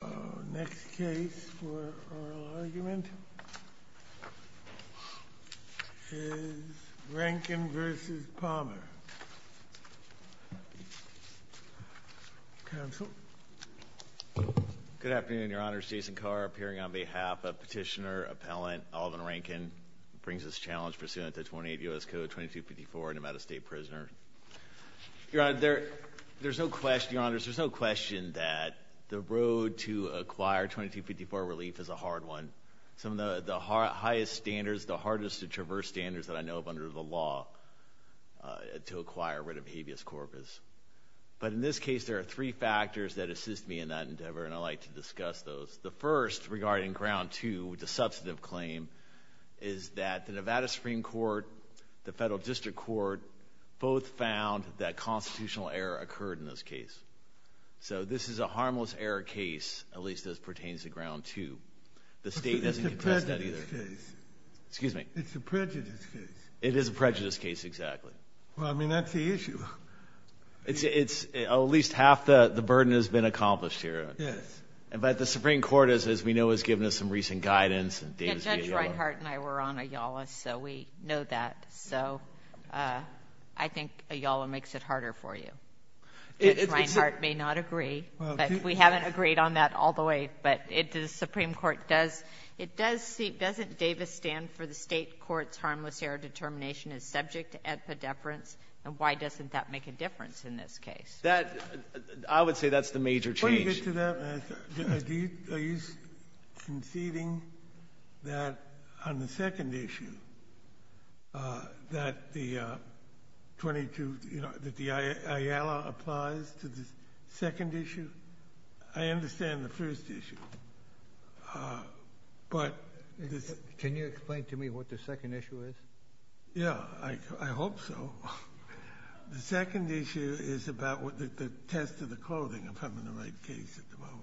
Our next case for oral argument is Rankin v. Palmer, counsel. Good afternoon, Your Honors. Jason Carr, appearing on behalf of petitioner-appellant Alvin Rankin. Brings this challenge pursuant to 28 U.S. Code 2254, a Nevada State prisoner. Your Honor, there's no question that the road to acquire 2254 relief is a hard one. Some of the highest standards, the hardest to traverse standards that I know of under the law to acquire a writ of habeas corpus. But in this case, there are three factors that assist me in that endeavor, and I'd like to discuss those. The first, regarding Ground 2, which is a substantive claim, is that the Nevada Supreme Court, the Federal District Court, both found that constitutional error occurred in this case. So this is a harmless error case, at least as it pertains to Ground 2. The State doesn't contest that either. It's a prejudice case. Excuse me? It's a prejudice case. It is a prejudice case, exactly. Well, I mean, that's the issue. At least half the burden has been accomplished here. Yes. But the Supreme Court, as we know, has given us some recent guidance, and Davis v. Ayala. Yeah, Judge Reinhart and I were on Ayala, so we know that. So I think Ayala makes it harder for you. Judge Reinhart may not agree, but we haven't agreed on that all the way. But the Supreme Court does see, doesn't Davis stand for the State court's harmless error determination as subject to antipodeference, and why doesn't that make a difference in this case? I would say that's the major change. Can I get to that? Are you conceding that on the second issue, that the Ayala applies to the second issue? I understand the first issue. Can you explain to me what the second issue is? Yeah, I hope so. The second issue is about the test of the clothing. I'm having the right case at the moment.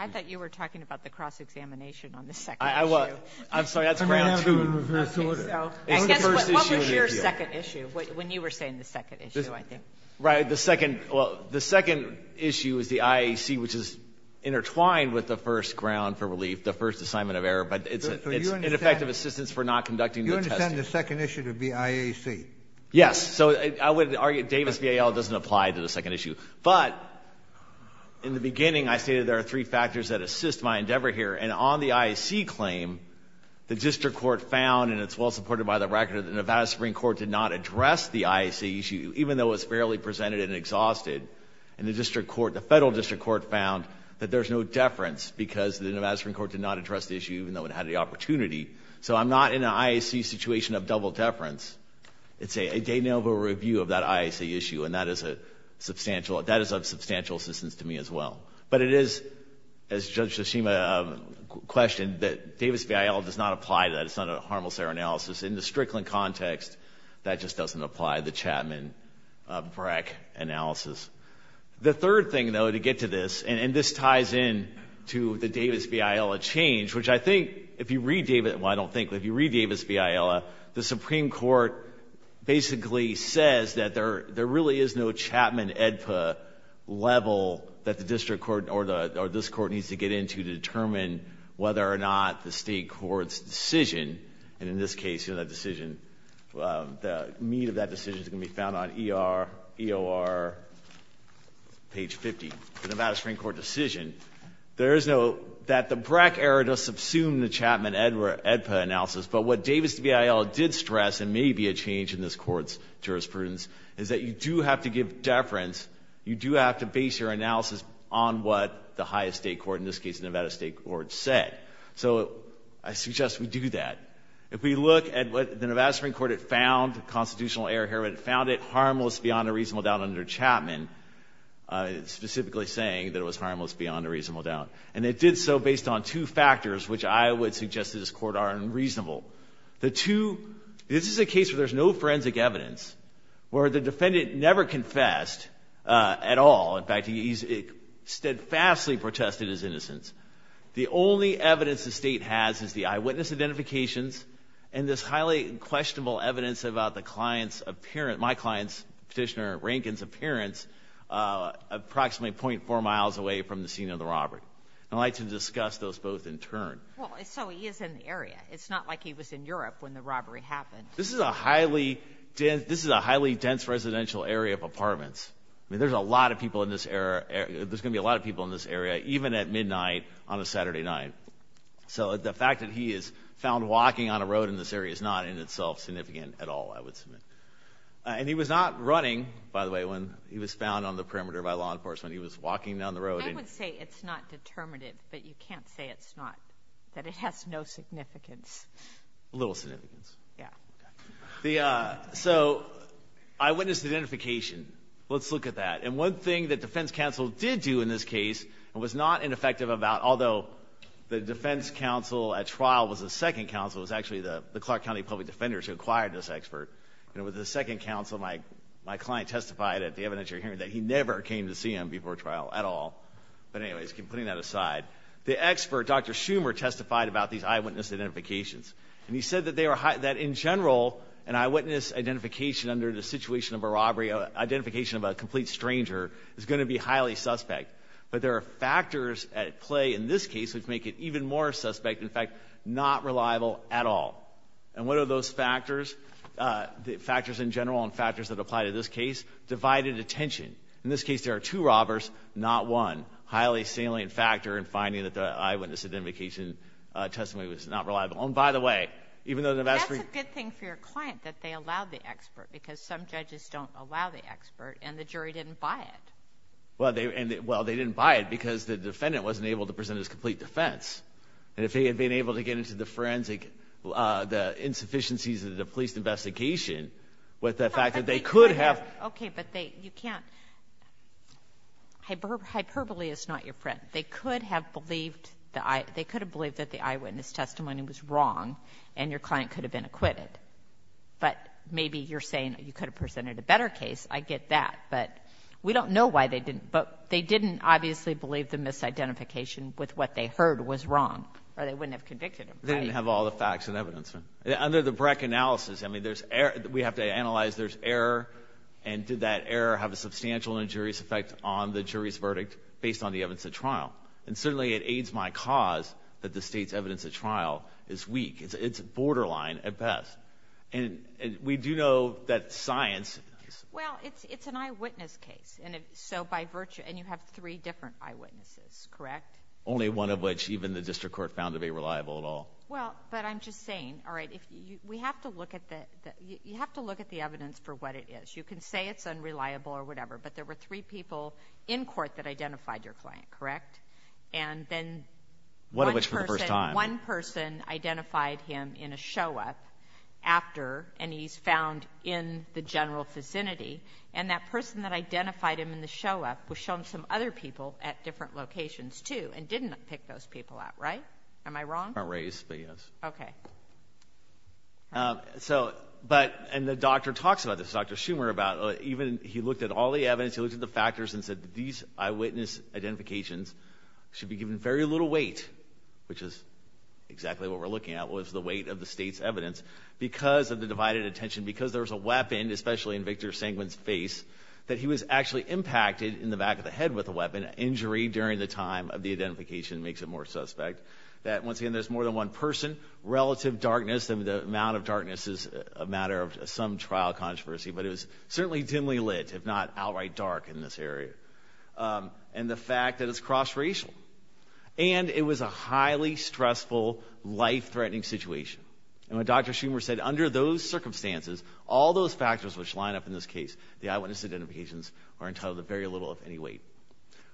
I thought you were talking about the cross-examination on the second issue. I'm sorry, that's ground two. I guess what was your second issue, when you were saying the second issue, I think? Right. The second issue is the IAC, which is intertwined with the first ground for relief, the first assignment of error. But it's ineffective assistance for not conducting the test. Then the second issue would be IAC. Yes. So I would argue Davis v. Ayala doesn't apply to the second issue. But in the beginning, I stated there are three factors that assist my endeavor here. And on the IAC claim, the district court found, and it's well supported by the record of the Nevada Supreme Court, did not address the IAC issue, even though it was fairly presented and exhausted. And the federal district court found that there's no deference because the Nevada Supreme Court did not address the issue, even though it had the opportunity. So I'm not in an IAC situation of double deference. It's a de novo review of that IAC issue. And that is of substantial assistance to me as well. But it is, as Judge Tshishima questioned, that Davis v. Ayala does not apply to that. It's not a harmless error analysis. In the Strickland context, that just doesn't apply, the Chapman-Brack analysis. The third thing, though, to get to this, and this ties in to the Davis v. Ayala change, which I think, if you read Davis, well, I don't think, but if you read Davis v. Ayala, the Supreme Court basically says that there really is no Chapman-EDPA level that the district court or this Court needs to get into to determine whether or not the State court's decision, and in this case, you know, that decision, the meat of that decision is going to be found on ER, EOR, page 50, the Nevada Supreme Court decision. There is no — that the Brack error does subsume the Chapman-EDPA analysis. But what Davis v. Ayala did stress, and may be a change in this Court's jurisprudence, is that you do have to give deference, you do have to base your analysis on what the highest State court, in this case the Nevada State court, said. So I suggest we do that. If we look at what the Nevada Supreme Court had found, constitutional error here, it found it harmless beyond a reasonable doubt under Chapman, specifically saying that it was harmless beyond a reasonable doubt. And it did so based on two factors, which I would suggest to this Court are unreasonable. The two — this is a case where there's no forensic evidence, where the defendant never confessed at all. In fact, he steadfastly protested his innocence. The only evidence the State has is the eyewitness identifications and this highly questionable evidence about the client's — my client's, Petitioner Rankin's disappearance approximately 0.4 miles away from the scene of the robbery. And I'd like to discuss those both in turn. Well, so he is in the area. It's not like he was in Europe when the robbery happened. This is a highly — this is a highly dense residential area of apartments. I mean, there's a lot of people in this area — there's going to be a lot of people in this area, even at midnight on a Saturday night. So the fact that he is found walking on a road in this area is not in itself significant at all, I would submit. And he was not running, by the way, when he was found on the perimeter by law enforcement. He was walking down the road and — I would say it's not determinative. But you can't say it's not — that it has no significance. Little significance. Yeah. The — so eyewitness identification. Let's look at that. And one thing that defense counsel did do in this case and was not ineffective about — although the defense counsel at trial was the second counsel, it was actually the second counsel, my client testified at the evidence you're hearing that he never came to see him before trial at all. But anyways, putting that aside. The expert, Dr. Schumer, testified about these eyewitness identifications. And he said that they were — that in general, an eyewitness identification under the situation of a robbery, identification of a complete stranger, is going to be highly suspect. But there are factors at play in this case which make it even more suspect, in fact, not reliable at all. And what are those factors? The factors in general and factors that apply to this case divided attention. In this case, there are two robbers, not one. Highly salient factor in finding that the eyewitness identification testimony was not reliable. And by the way, even though the vast — But that's a good thing for your client, that they allowed the expert, because some judges don't allow the expert, and the jury didn't buy it. Well, they — well, they didn't buy it because the defendant wasn't able to present his complete defense. And if he had been able to get into the forensic — the insufficiencies of the police investigation, with the fact that they could have — Okay, but they — you can't — hyperbole is not your friend. They could have believed that the eyewitness testimony was wrong, and your client could have been acquitted. But maybe you're saying you could have presented a better case. I get that. But we don't know why they didn't. But they didn't obviously believe the misidentification with what they heard was wrong, or they wouldn't have convicted him. They didn't have all the facts and evidence. Under the BRAC analysis, I mean, there's — we have to analyze there's error, and did that error have a substantial injurious effect on the jury's verdict based on the evidence at trial? And certainly it aids my cause that the state's evidence at trial is weak. It's borderline, at best. And we do know that science — Well, it's an eyewitness case. And so by virtue — and you have three different eyewitnesses, correct? Only one of which even the district court found to be reliable at all. Well, but I'm just saying, all right, we have to look at the — you have to look at the evidence for what it is. You can say it's unreliable or whatever, but there were three people in court that identified your client, correct? And then one person — One of which for the first time. One person identified him in a show-up after, and he's found in the general vicinity. And that person that identified him in the show-up was shown some other people at different locations too and didn't pick those people out, right? Am I wrong? I'm not raised, but yes. Okay. So, but — and the doctor talks about this. Dr. Schumer about even — he looked at all the evidence. He looked at the factors and said these eyewitness identifications should be given very little weight, which is exactly what we're looking at, was the weight of the state's evidence. Because of the divided attention, because there was a weapon, especially in Victor Sanguin's face, that he was actually impacted in the back of the head with a weapon. And injury during the time of the identification makes it more suspect. That, once again, there's more than one person. Relative darkness, the amount of darkness is a matter of some trial controversy, but it was certainly dimly lit, if not outright dark in this area. And the fact that it's cross-racial. And it was a highly stressful, life-threatening situation. And when Dr. Schumer said, under those circumstances, all those factors which line up in this case, the eyewitness identifications, are entitled to very little, if any, weight.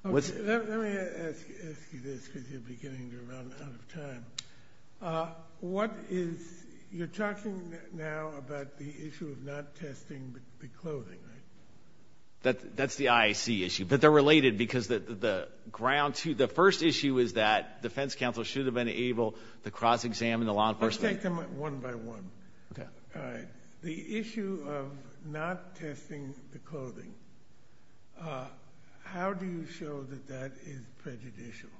Let me ask you this, because you're beginning to run out of time. What is—you're talking now about the issue of not testing the clothing, right? That's the IAC issue. But they're related, because the ground— the first issue is that defense counsel should have been able to cross-examine the law enforcement. Let's take them one by one. The issue of not testing the clothing, how do you show that that is prejudicial?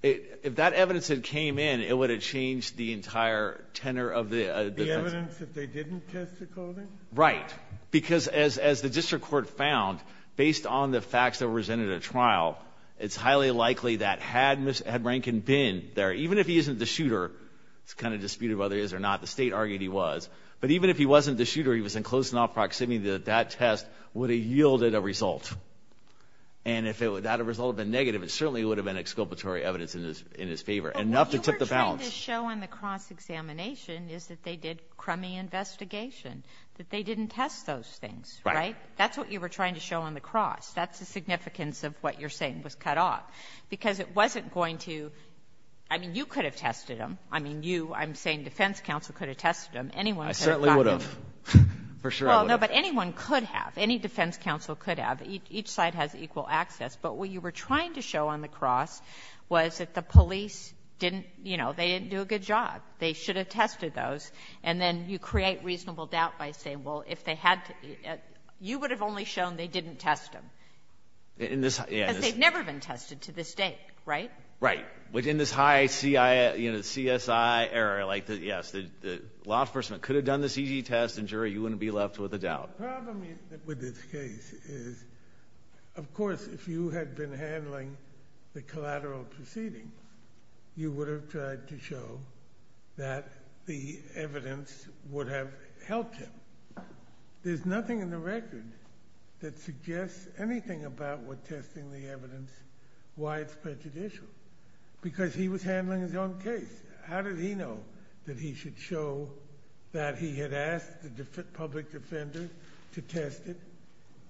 If that evidence had came in, it would have changed the entire tenor of the defense. The evidence that they didn't test the clothing? Right. Because as the district court found, based on the facts that were presented at trial, it's highly likely that had Rankin been there, even if he isn't the shooter, it's kind of disputed whether he is or not. The state argued he was. But even if he wasn't the shooter, he was in close enough proximity that that test would have yielded a result. And if that result had been negative, it certainly would have been exculpatory evidence in his favor, enough to tip the balance. What you were trying to show on the cross-examination is that they did crummy investigation, that they didn't test those things, right? Right. That's what you were trying to show on the cross. That's the significance of what you're saying was cut off, because it wasn't going to— I mean, you could have tested them. I mean, you. I'm saying defense counsel could have tested them. Anyone could have gotten them. I certainly would have. For sure, I would have. Well, no, but anyone could have. Any defense counsel could have. Each side has equal access. But what you were trying to show on the cross was that the police didn't, you know, they didn't do a good job. They should have tested those. And then you create reasonable doubt by saying, well, if they had to — you would have only shown they didn't test them. In this — Because they've never been tested to this date, right? Right. Within this high CSI era, like, yes, the law enforcement could have done this easy test, and, Jerry, you wouldn't be left with a doubt. The problem with this case is, of course, if you had been handling the collateral proceeding, you would have tried to show that the evidence would have helped him. There's nothing in the record that suggests anything about what testing the evidence, why it's prejudicial. Because he was handling his own case. How did he know that he should show that he had asked the public defenders to test it?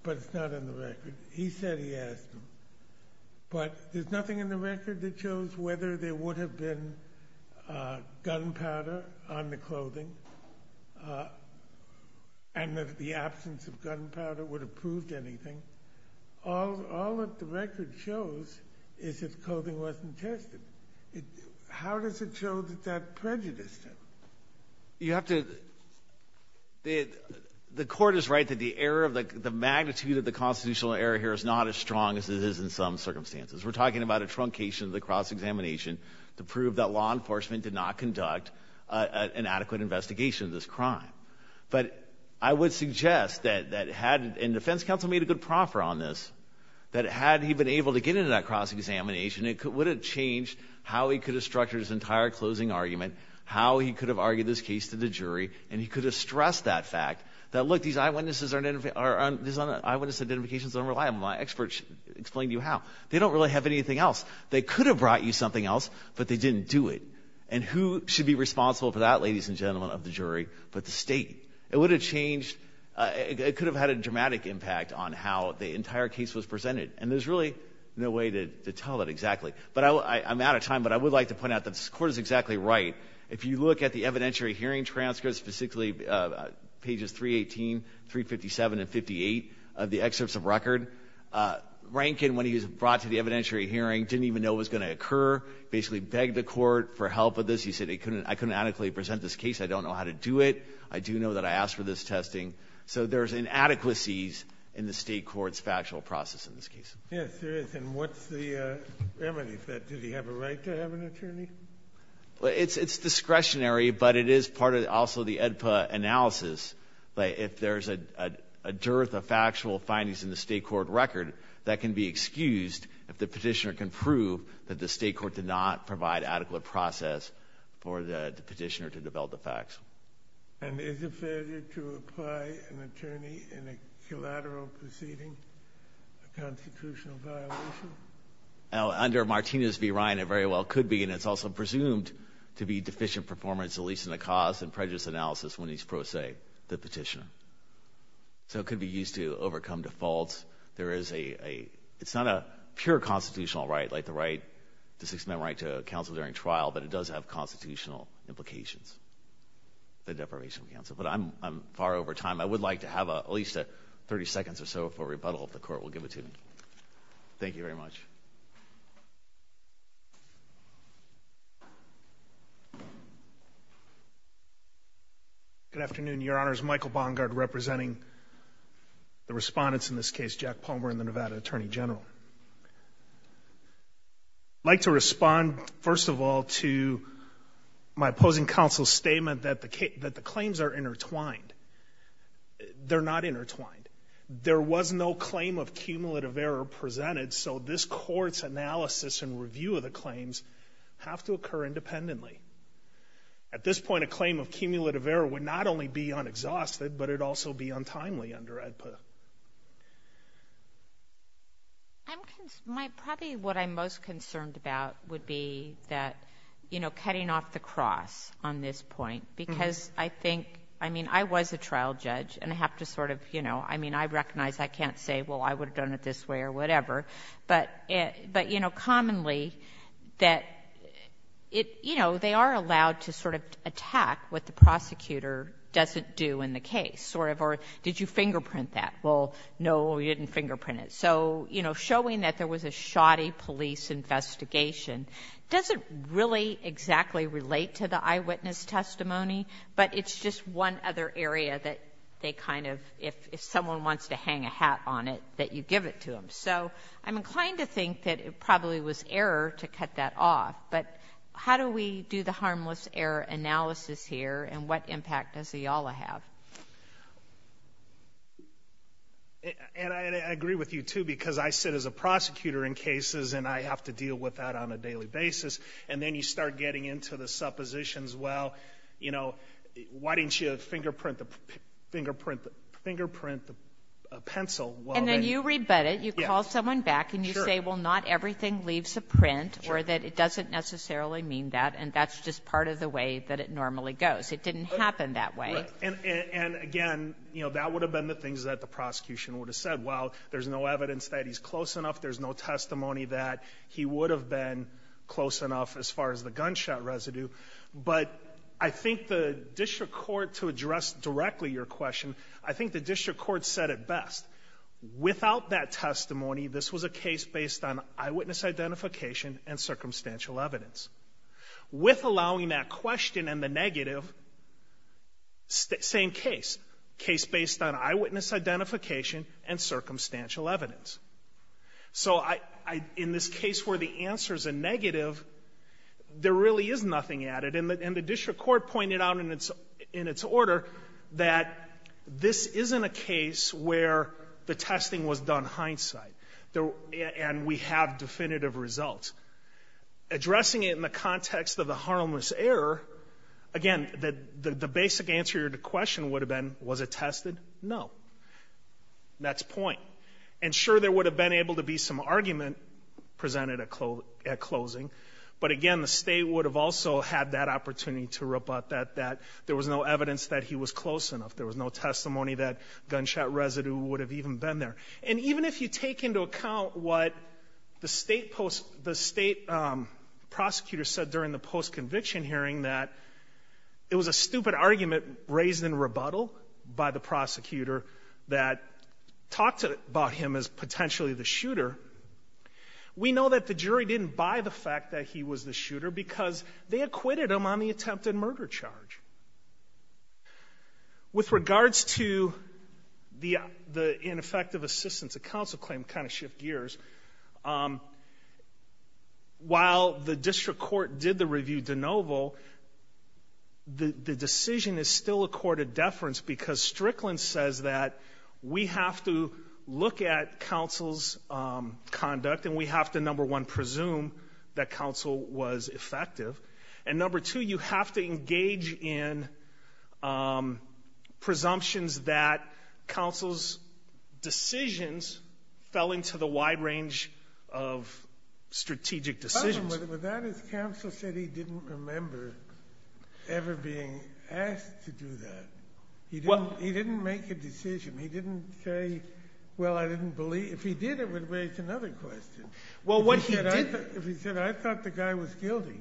But it's not in the record. He said he asked them. But there's nothing in the record that shows whether there would have been gunpowder on the clothing, and that the absence of gunpowder would have proved anything. All that the record shows is that the clothing wasn't tested. How does it show that that prejudiced him? You have to — The Court is right that the error of the magnitude of the constitutional error here is not as strong as it is in some circumstances. We're talking about a truncation of the cross-examination to prove that law enforcement did not conduct an adequate investigation of this crime. But I would suggest that, and the defense counsel made a good proffer on this, that had he been able to get into that cross-examination, it would have changed how he could have structured his entire closing argument, how he could have argued this case to the jury, and he could have stressed that fact that, look, these eyewitness identifications are unreliable. My experts explained to you how. They don't really have anything else. They could have brought you something else, but they didn't do it. And who should be responsible for that, ladies and gentlemen of the jury, but the State? It would have changed. It could have had a dramatic impact on how the entire case was presented, and there's really no way to tell that exactly. But I'm out of time, but I would like to point out that the Court is exactly right. If you look at the evidentiary hearing transcripts, specifically pages 318, 357, and 58 of the excerpts of record, Rankin, when he was brought to the evidentiary hearing, didn't even know it was going to occur, basically begged the Court for help with this. He said, I couldn't adequately present this case. I don't know how to do it. I do know that I asked for this testing. So there's inadequacies in the State court's factual process in this case. Yes, there is. And what's the remedy for that? Did he have a right to have an attorney? It's discretionary, but it is part of also the AEDPA analysis. If there's a dearth of factual findings in the State court record, that can be excused if the petitioner can prove that the State court did not provide adequate process for the petitioner to develop the facts. And is it fair to apply an attorney in a collateral proceeding, a constitutional violation? Under Martinez v. Ryan, it very well could be, and it's also presumed to be deficient performance at least in the cause and prejudice analysis when it's pro se, the petitioner. So it could be used to overcome defaults. There is a – it's not a pure constitutional right like the right, the right to memo write to counsel during trial, but it does have constitutional implications, the deprivation of counsel. But I'm far over time. I would like to have at least 30 seconds or so for rebuttal if the court will give it to me. Thank you very much. Good afternoon, Your Honors. Michael Bongard representing the respondents in this case, Jack Palmer and the Nevada Attorney General. I'd like to respond, first of all, to my opposing counsel's statement that the claims are intertwined. They're not intertwined. There was no claim of cumulative error presented, so this court's analysis and review of the claims have to occur independently. At this point, a claim of cumulative error would not only be unexhausted, but it would also be untimely under AEDPA. Probably what I'm most concerned about would be that, you know, cutting off the cross on this point, because I think – I mean, I was a trial judge, and I have to sort of, you know – I mean, I recognize I can't say, well, I would have done it this way or whatever, so they are allowed to sort of attack what the prosecutor doesn't do in the case, sort of, or did you fingerprint that? Well, no, we didn't fingerprint it. So, you know, showing that there was a shoddy police investigation doesn't really exactly relate to the eyewitness testimony, but it's just one other area that they kind of – if someone wants to hang a hat on it, that you give it to them. So I'm inclined to think that it probably was error to cut that off, but how do we do the harmless error analysis here, and what impact does EALA have? And I agree with you, too, because I sit as a prosecutor in cases, and I have to deal with that on a daily basis, and then you start getting into the suppositions, well, you know, why didn't you fingerprint the pencil? And then you rebut it. You call someone back, and you say, well, not everything leaves a print or that it doesn't necessarily mean that, and that's just part of the way that it normally goes. It didn't happen that way. And, again, you know, that would have been the things that the prosecution would have said. Well, there's no evidence that he's close enough. There's no testimony that he would have been close enough as far as the gunshot residue. But I think the district court, to address directly your question, I think the district court said it best. Without that testimony, this was a case based on eyewitness identification and circumstantial evidence. With allowing that question and the negative, same case, case based on eyewitness identification and circumstantial evidence. So in this case where the answer is a negative, there really is nothing added. And the district court pointed out in its order that this isn't a case where the testing was done hindsight, and we have definitive results. Addressing it in the context of the harmless error, again, the basic answer to your question would have been, was it tested? No. That's point. And, sure, there would have been able to be some argument presented at closing, but, again, the state would have also had that opportunity to rebut that there was no evidence that he was close enough. There was no testimony that gunshot residue would have even been there. And even if you take into account what the state prosecutor said during the post-conviction hearing, that it was a stupid argument raised in rebuttal by the prosecutor that talked about him as potentially the shooter, we know that the jury didn't buy the fact that he was the shooter because they acquitted him on the attempted murder charge. With regards to the ineffective assistance, the counsel claim kind of shift gears. While the district court did the review de novo, the decision is still a court of deference because Strickland says that we have to look at counsel's conduct and we have to, number one, presume that counsel was effective, and, number two, you have to engage in presumptions that counsel's decisions fell into the wide range of strategic decisions. But that is counsel said he didn't remember ever being asked to do that. He didn't make a decision. He didn't say, well, I didn't believe. If he did, it would raise another question. If he said, I thought the guy was guilty.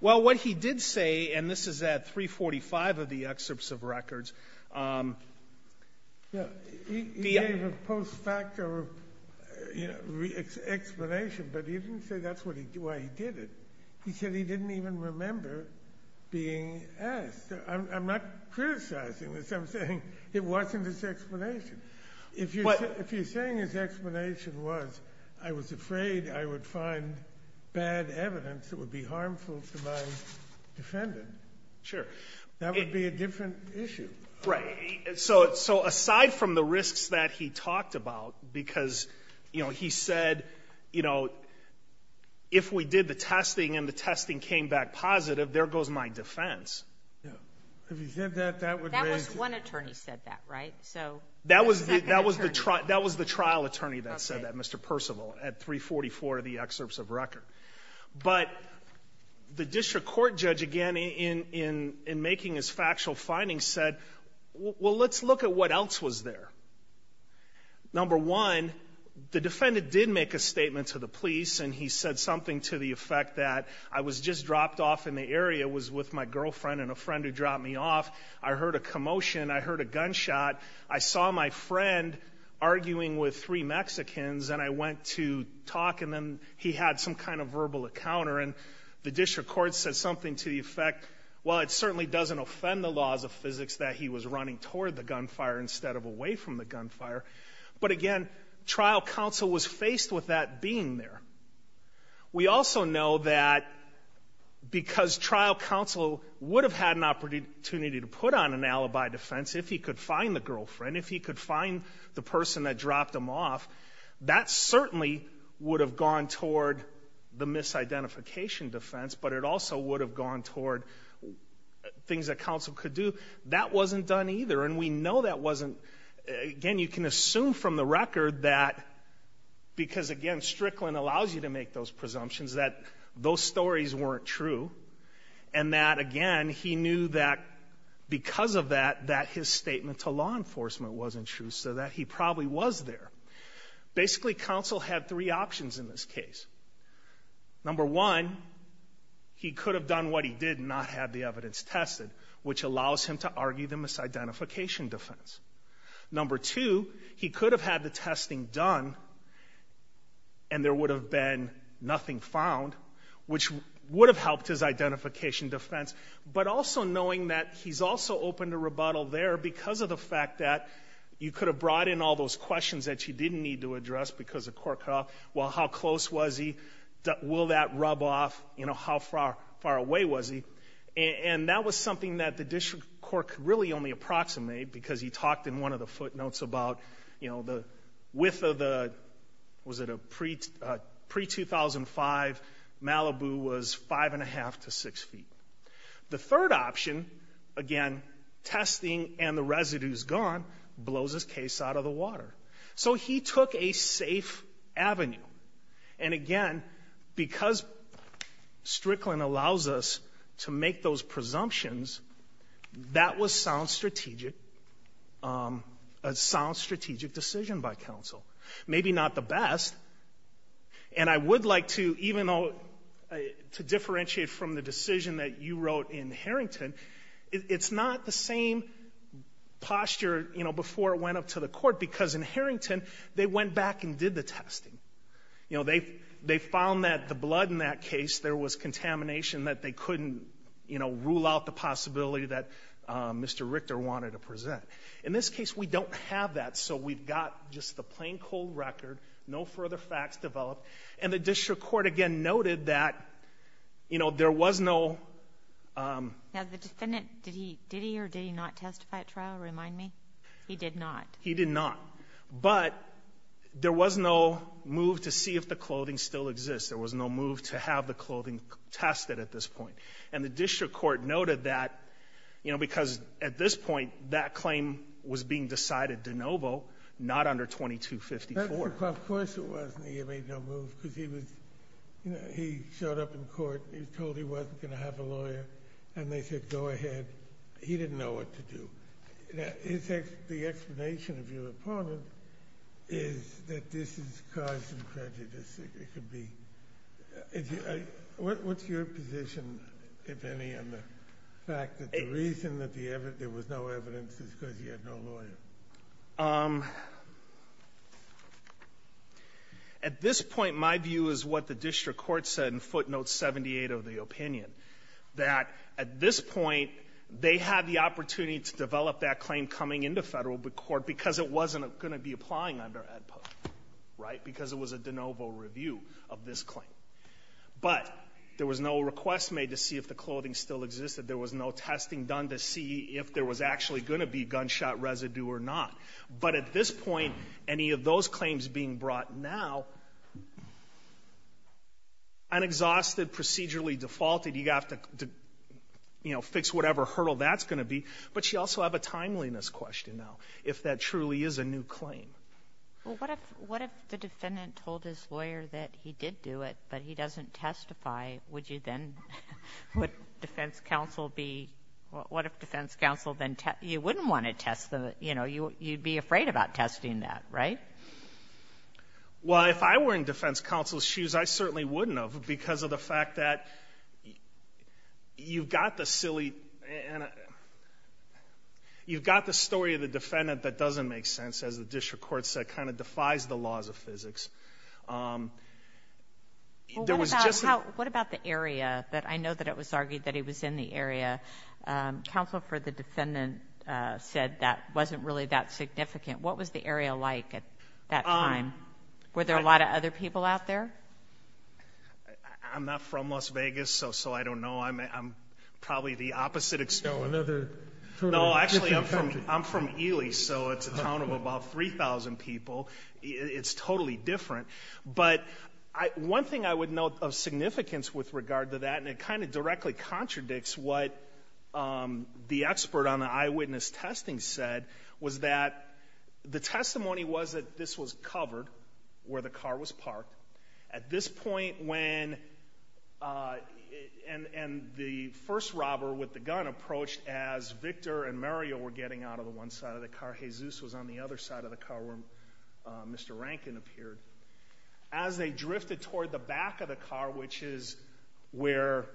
Well, what he did say, and this is at 345 of the excerpts of records. He gave a post facto explanation, but he didn't say that's why he did it. He said he didn't even remember being asked. I'm not criticizing this. I'm saying it wasn't his explanation. If you're saying his explanation was, I was afraid I would find bad evidence that would be harmful to my defendant, that would be a different issue. Right. So aside from the risks that he talked about, because, you know, he said, you know, if we did the testing and the testing came back positive, there goes my defense. If he said that, that would raise. That was one attorney said that, right? That was the trial attorney that said that, Mr. Percival, at 344 of the excerpts of record. But the district court judge, again, in making his factual findings, said, well, let's look at what else was there. Number one, the defendant did make a statement to the police, and he said something to the effect that I was just dropped off in the area, was with my girlfriend and a friend who dropped me off. I heard a commotion. I heard a gunshot. I saw my friend arguing with three Mexicans, and I went to talk, and then he had some kind of verbal encounter, and the district court said something to the effect, well, it certainly doesn't offend the laws of physics that he was running toward the gunfire instead of away from the gunfire. But, again, trial counsel was faced with that being there. We also know that because trial counsel would have had an opportunity to put on an alibi defense if he could find the girlfriend, if he could find the person that dropped him off, that certainly would have gone toward the misidentification defense, but it also would have gone toward things that counsel could do. That wasn't done either, and we know that wasn't, again, you can assume from the record that, because, again, Strickland allows you to make those presumptions, that those stories weren't true, and that, again, he knew that because of that, that his statement to law enforcement wasn't true, so that he probably was there. Basically, counsel had three options in this case. Number one, he could have done what he did and not had the evidence tested, which allows him to argue the misidentification defense. Number two, he could have had the testing done, and there would have been nothing found, which would have helped his identification defense, but also knowing that he's also open to rebuttal there because of the fact that you could have brought in all those questions that you didn't need to address because the court could have, well, how close was he, will that rub off, you know, how far away was he, and that was something that the district court could really only approximate because he talked in one of the footnotes about, you know, the width of the, was it a pre-2005, Malibu was five and a half to six feet. The third option, again, testing and the residue's gone, blows his case out of the water. So he took a safe avenue, and again, because Strickland allows us to make those presumptions, that was a sound strategic decision by counsel, maybe not the best, and I would like to, even though, to differentiate from the decision that you wrote in Harrington, it's not the same posture, you know, before it went up to the court because in Harrington, they went back and did the testing. You know, they found that the blood in that case, there was contamination that they couldn't, you know, rule out the possibility that Mr. Richter wanted to present. In this case, we don't have that, so we've got just the plain cold record, no further facts developed, and the district court, again, noted that, you know, there was no... Now, the defendant, did he or did he not testify at trial? Remind me. He did not. He did not, but there was no move to see if the clothing still exists. There was no move to have the clothing tested at this point, and the district court noted that, you know, because at this point, that claim was being decided de novo, not under 2254. Of course it wasn't. He made no move because he was, you know, he showed up in court. He was told he wasn't going to have a lawyer, and they said, go ahead. He didn't know what to do. The explanation of your opponent is that this is cause for prejudice. What's your position, if any, on the fact that the reason that there was no evidence is because he had no lawyer? At this point, my view is what the district court said in footnote 78 of the opinion, that at this point, they had the opportunity to develop that claim coming into federal court because it wasn't going to be applying under Ed POC, right, because it was a de novo review of this claim. But there was no request made to see if the clothing still existed. There was no testing done to see if there was actually going to be gunshot residue or not. But at this point, any of those claims being brought now, an exhausted, procedurally defaulted, you have to, you know, fix whatever hurdle that's going to be. But you also have a timeliness question now. If that truly is a new claim. Well, what if the defendant told his lawyer that he did do it, but he doesn't testify? Would you then, would defense counsel be, what if defense counsel then, you wouldn't want to test the, you know, you'd be afraid about testing that, right? Well, if I were in defense counsel's shoes, I certainly wouldn't have, because of the fact that you've got the silly, you've got the story of the defendant that doesn't make sense, as the district court said, kind of defies the laws of physics. What about the area? I know that it was argued that he was in the area. Counsel for the defendant said that wasn't really that significant. What was the area like at that time? Were there a lot of other people out there? I'm not from Las Vegas, so I don't know. I'm probably the opposite experience. No, actually, I'm from Ely, so it's a town of about 3,000 people. It's totally different. But one thing I would note of significance with regard to that, and it kind of directly contradicts what the expert on the eyewitness testing said, was that the testimony was that this was covered where the car was parked. At this point when, and the first robber with the gun approached as Victor and Mario were getting out of the one side of the car. Jesus was on the other side of the car where Mr. Rankin appeared. As they drifted toward the back of the car, which is where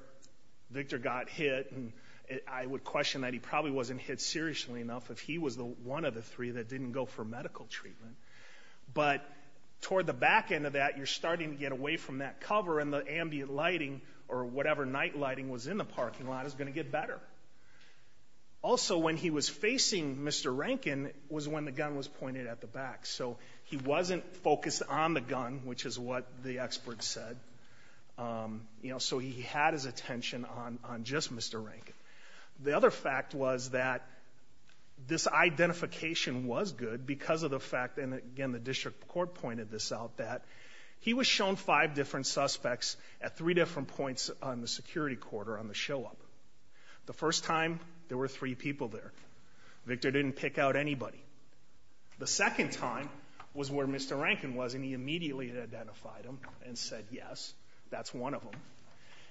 Victor got hit, and I would question that he probably wasn't hit seriously enough if he was one of the three that didn't go for medical treatment. But toward the back end of that, you're starting to get away from that cover, and the ambient lighting or whatever night lighting was in the parking lot is going to get better. Also, when he was facing Mr. Rankin was when the gun was pointed at the back. So he wasn't focused on the gun, which is what the expert said. So he had his attention on just Mr. Rankin. The other fact was that this identification was good because of the fact, and again the district court pointed this out, that he was shown five different suspects at three different points on the security quarter on the show up. The first time there were three people there. Victor didn't pick out anybody. The second time was where Mr. Rankin was, and he immediately identified him and said, yes, that's one of them.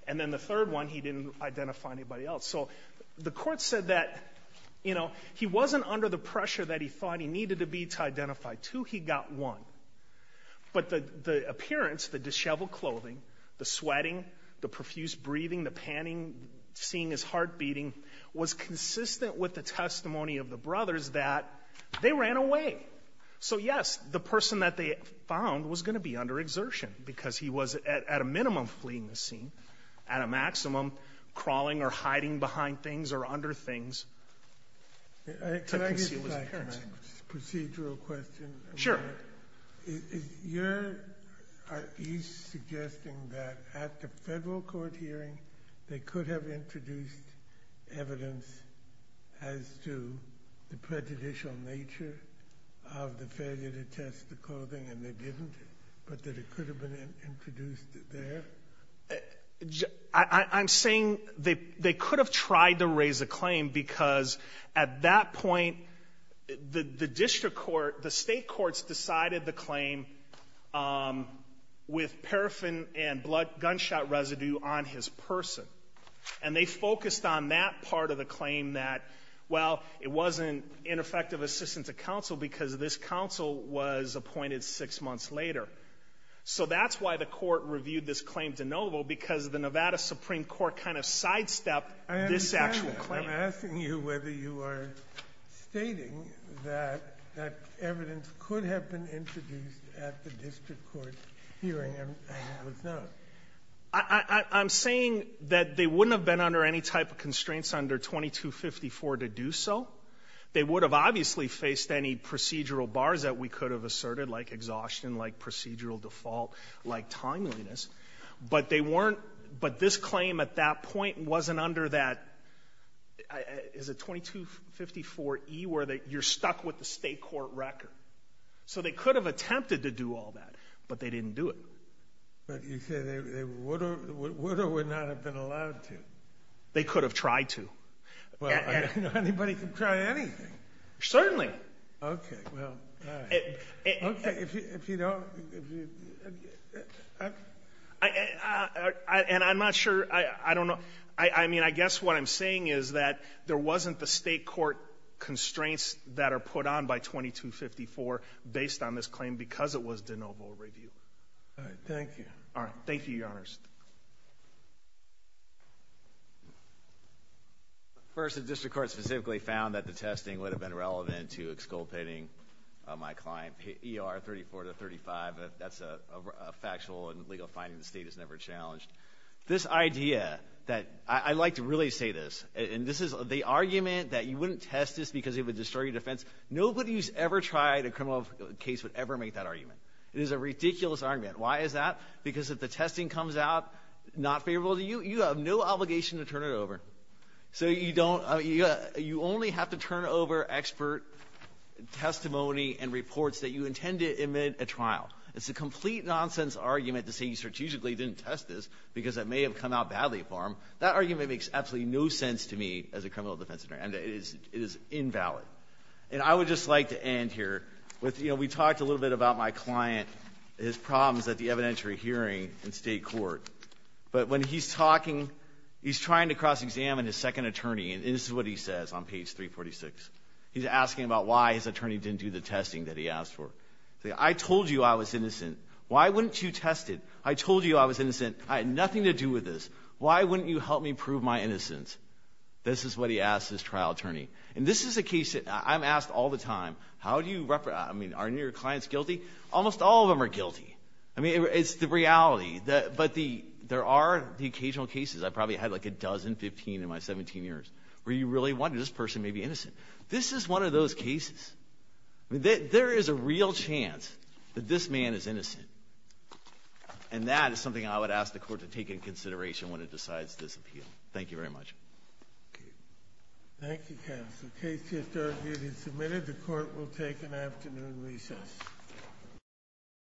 And then the third one, he didn't identify anybody else. So the court said that he wasn't under the pressure that he thought he needed to be to identify two. He got one. But the appearance, the disheveled clothing, the sweating, the profuse breathing, the panting, seeing his heart beating was consistent with the testimony of the brothers that they ran away. So, yes, the person that they found was going to be under exertion because he was at a minimum fleeing the scene, at a maximum crawling or hiding behind things or under things. Can I get back to my procedural question? Sure. You're suggesting that at the federal court hearing, they could have introduced evidence as to the prejudicial nature of the failure to test the clothing, and they didn't, but that it could have been introduced there? I'm saying they could have tried to raise a claim because at that point, the district court, the state courts decided the claim with paraffin and blood gunshot residue on his person. And they focused on that part of the claim that, well, it wasn't ineffective assistance to counsel because this counsel was appointed six months later. So that's why the court reviewed this claim de novo, because the Nevada Supreme Court kind of sidestepped this actual claim. I'm asking you whether you are stating that that evidence could have been introduced at the district court hearing and it was not. I'm saying that they wouldn't have been under any type of constraints under 2254 to do so. They would have obviously faced any procedural bars that we could have asserted, like exhaustion, like procedural default, like timeliness. But they weren't, but this claim at that point wasn't under that, is it 2254E, where you're stuck with the state court record. So they could have attempted to do all that, but they didn't do it. But you say they would or would not have been allowed to. They could have tried to. Well, anybody can try anything. Certainly. Okay, well, all right. Okay, if you don't. And I'm not sure. I don't know. I mean, I guess what I'm saying is that there wasn't the state court constraints that are put on by 2254 based on this claim because it was de novo review. All right. Thank you. All right. Thank you, Your Honors. First, the district court specifically found that the testing would have been relevant to exculpating my client, ER 34 to 35. That's a factual and legal finding the state has never challenged. This idea that I like to really say this, and this is the argument that you wouldn't test this because it would destroy your defense. Nobody who's ever tried a criminal case would ever make that argument. It is a ridiculous argument. Why is that? Because if the testing comes out not favorable to you, you have no obligation to turn it over. So you only have to turn over expert testimony and reports that you intend to admit at trial. It's a complete nonsense argument to say you strategically didn't test this because it may have come out badly for him. That argument makes absolutely no sense to me as a criminal defense attorney, and it is invalid. And I would just like to end here with, you know, we talked a little bit about my client, his problems at the evidentiary hearing in state court. But when he's talking, he's trying to cross-examine his second attorney, and this is what he says on page 346. He's asking about why his attorney didn't do the testing that he asked for. He said, I told you I was innocent. Why wouldn't you test it? I told you I was innocent. I had nothing to do with this. Why wouldn't you help me prove my innocence? This is what he asked his trial attorney. And this is a case that I'm asked all the time. How do you represent? I mean, aren't your clients guilty? Almost all of them are guilty. I mean, it's the reality. But there are the occasional cases. I've probably had, like, a dozen, 15 in my 17 years, where you really wonder, this person may be innocent. This is one of those cases. I mean, there is a real chance that this man is innocent. And that is something I would ask the court to take into consideration when it decides this appeal. Thank you very much. Okay. Thank you, counsel. The case is submitted. The court will take an afternoon recess.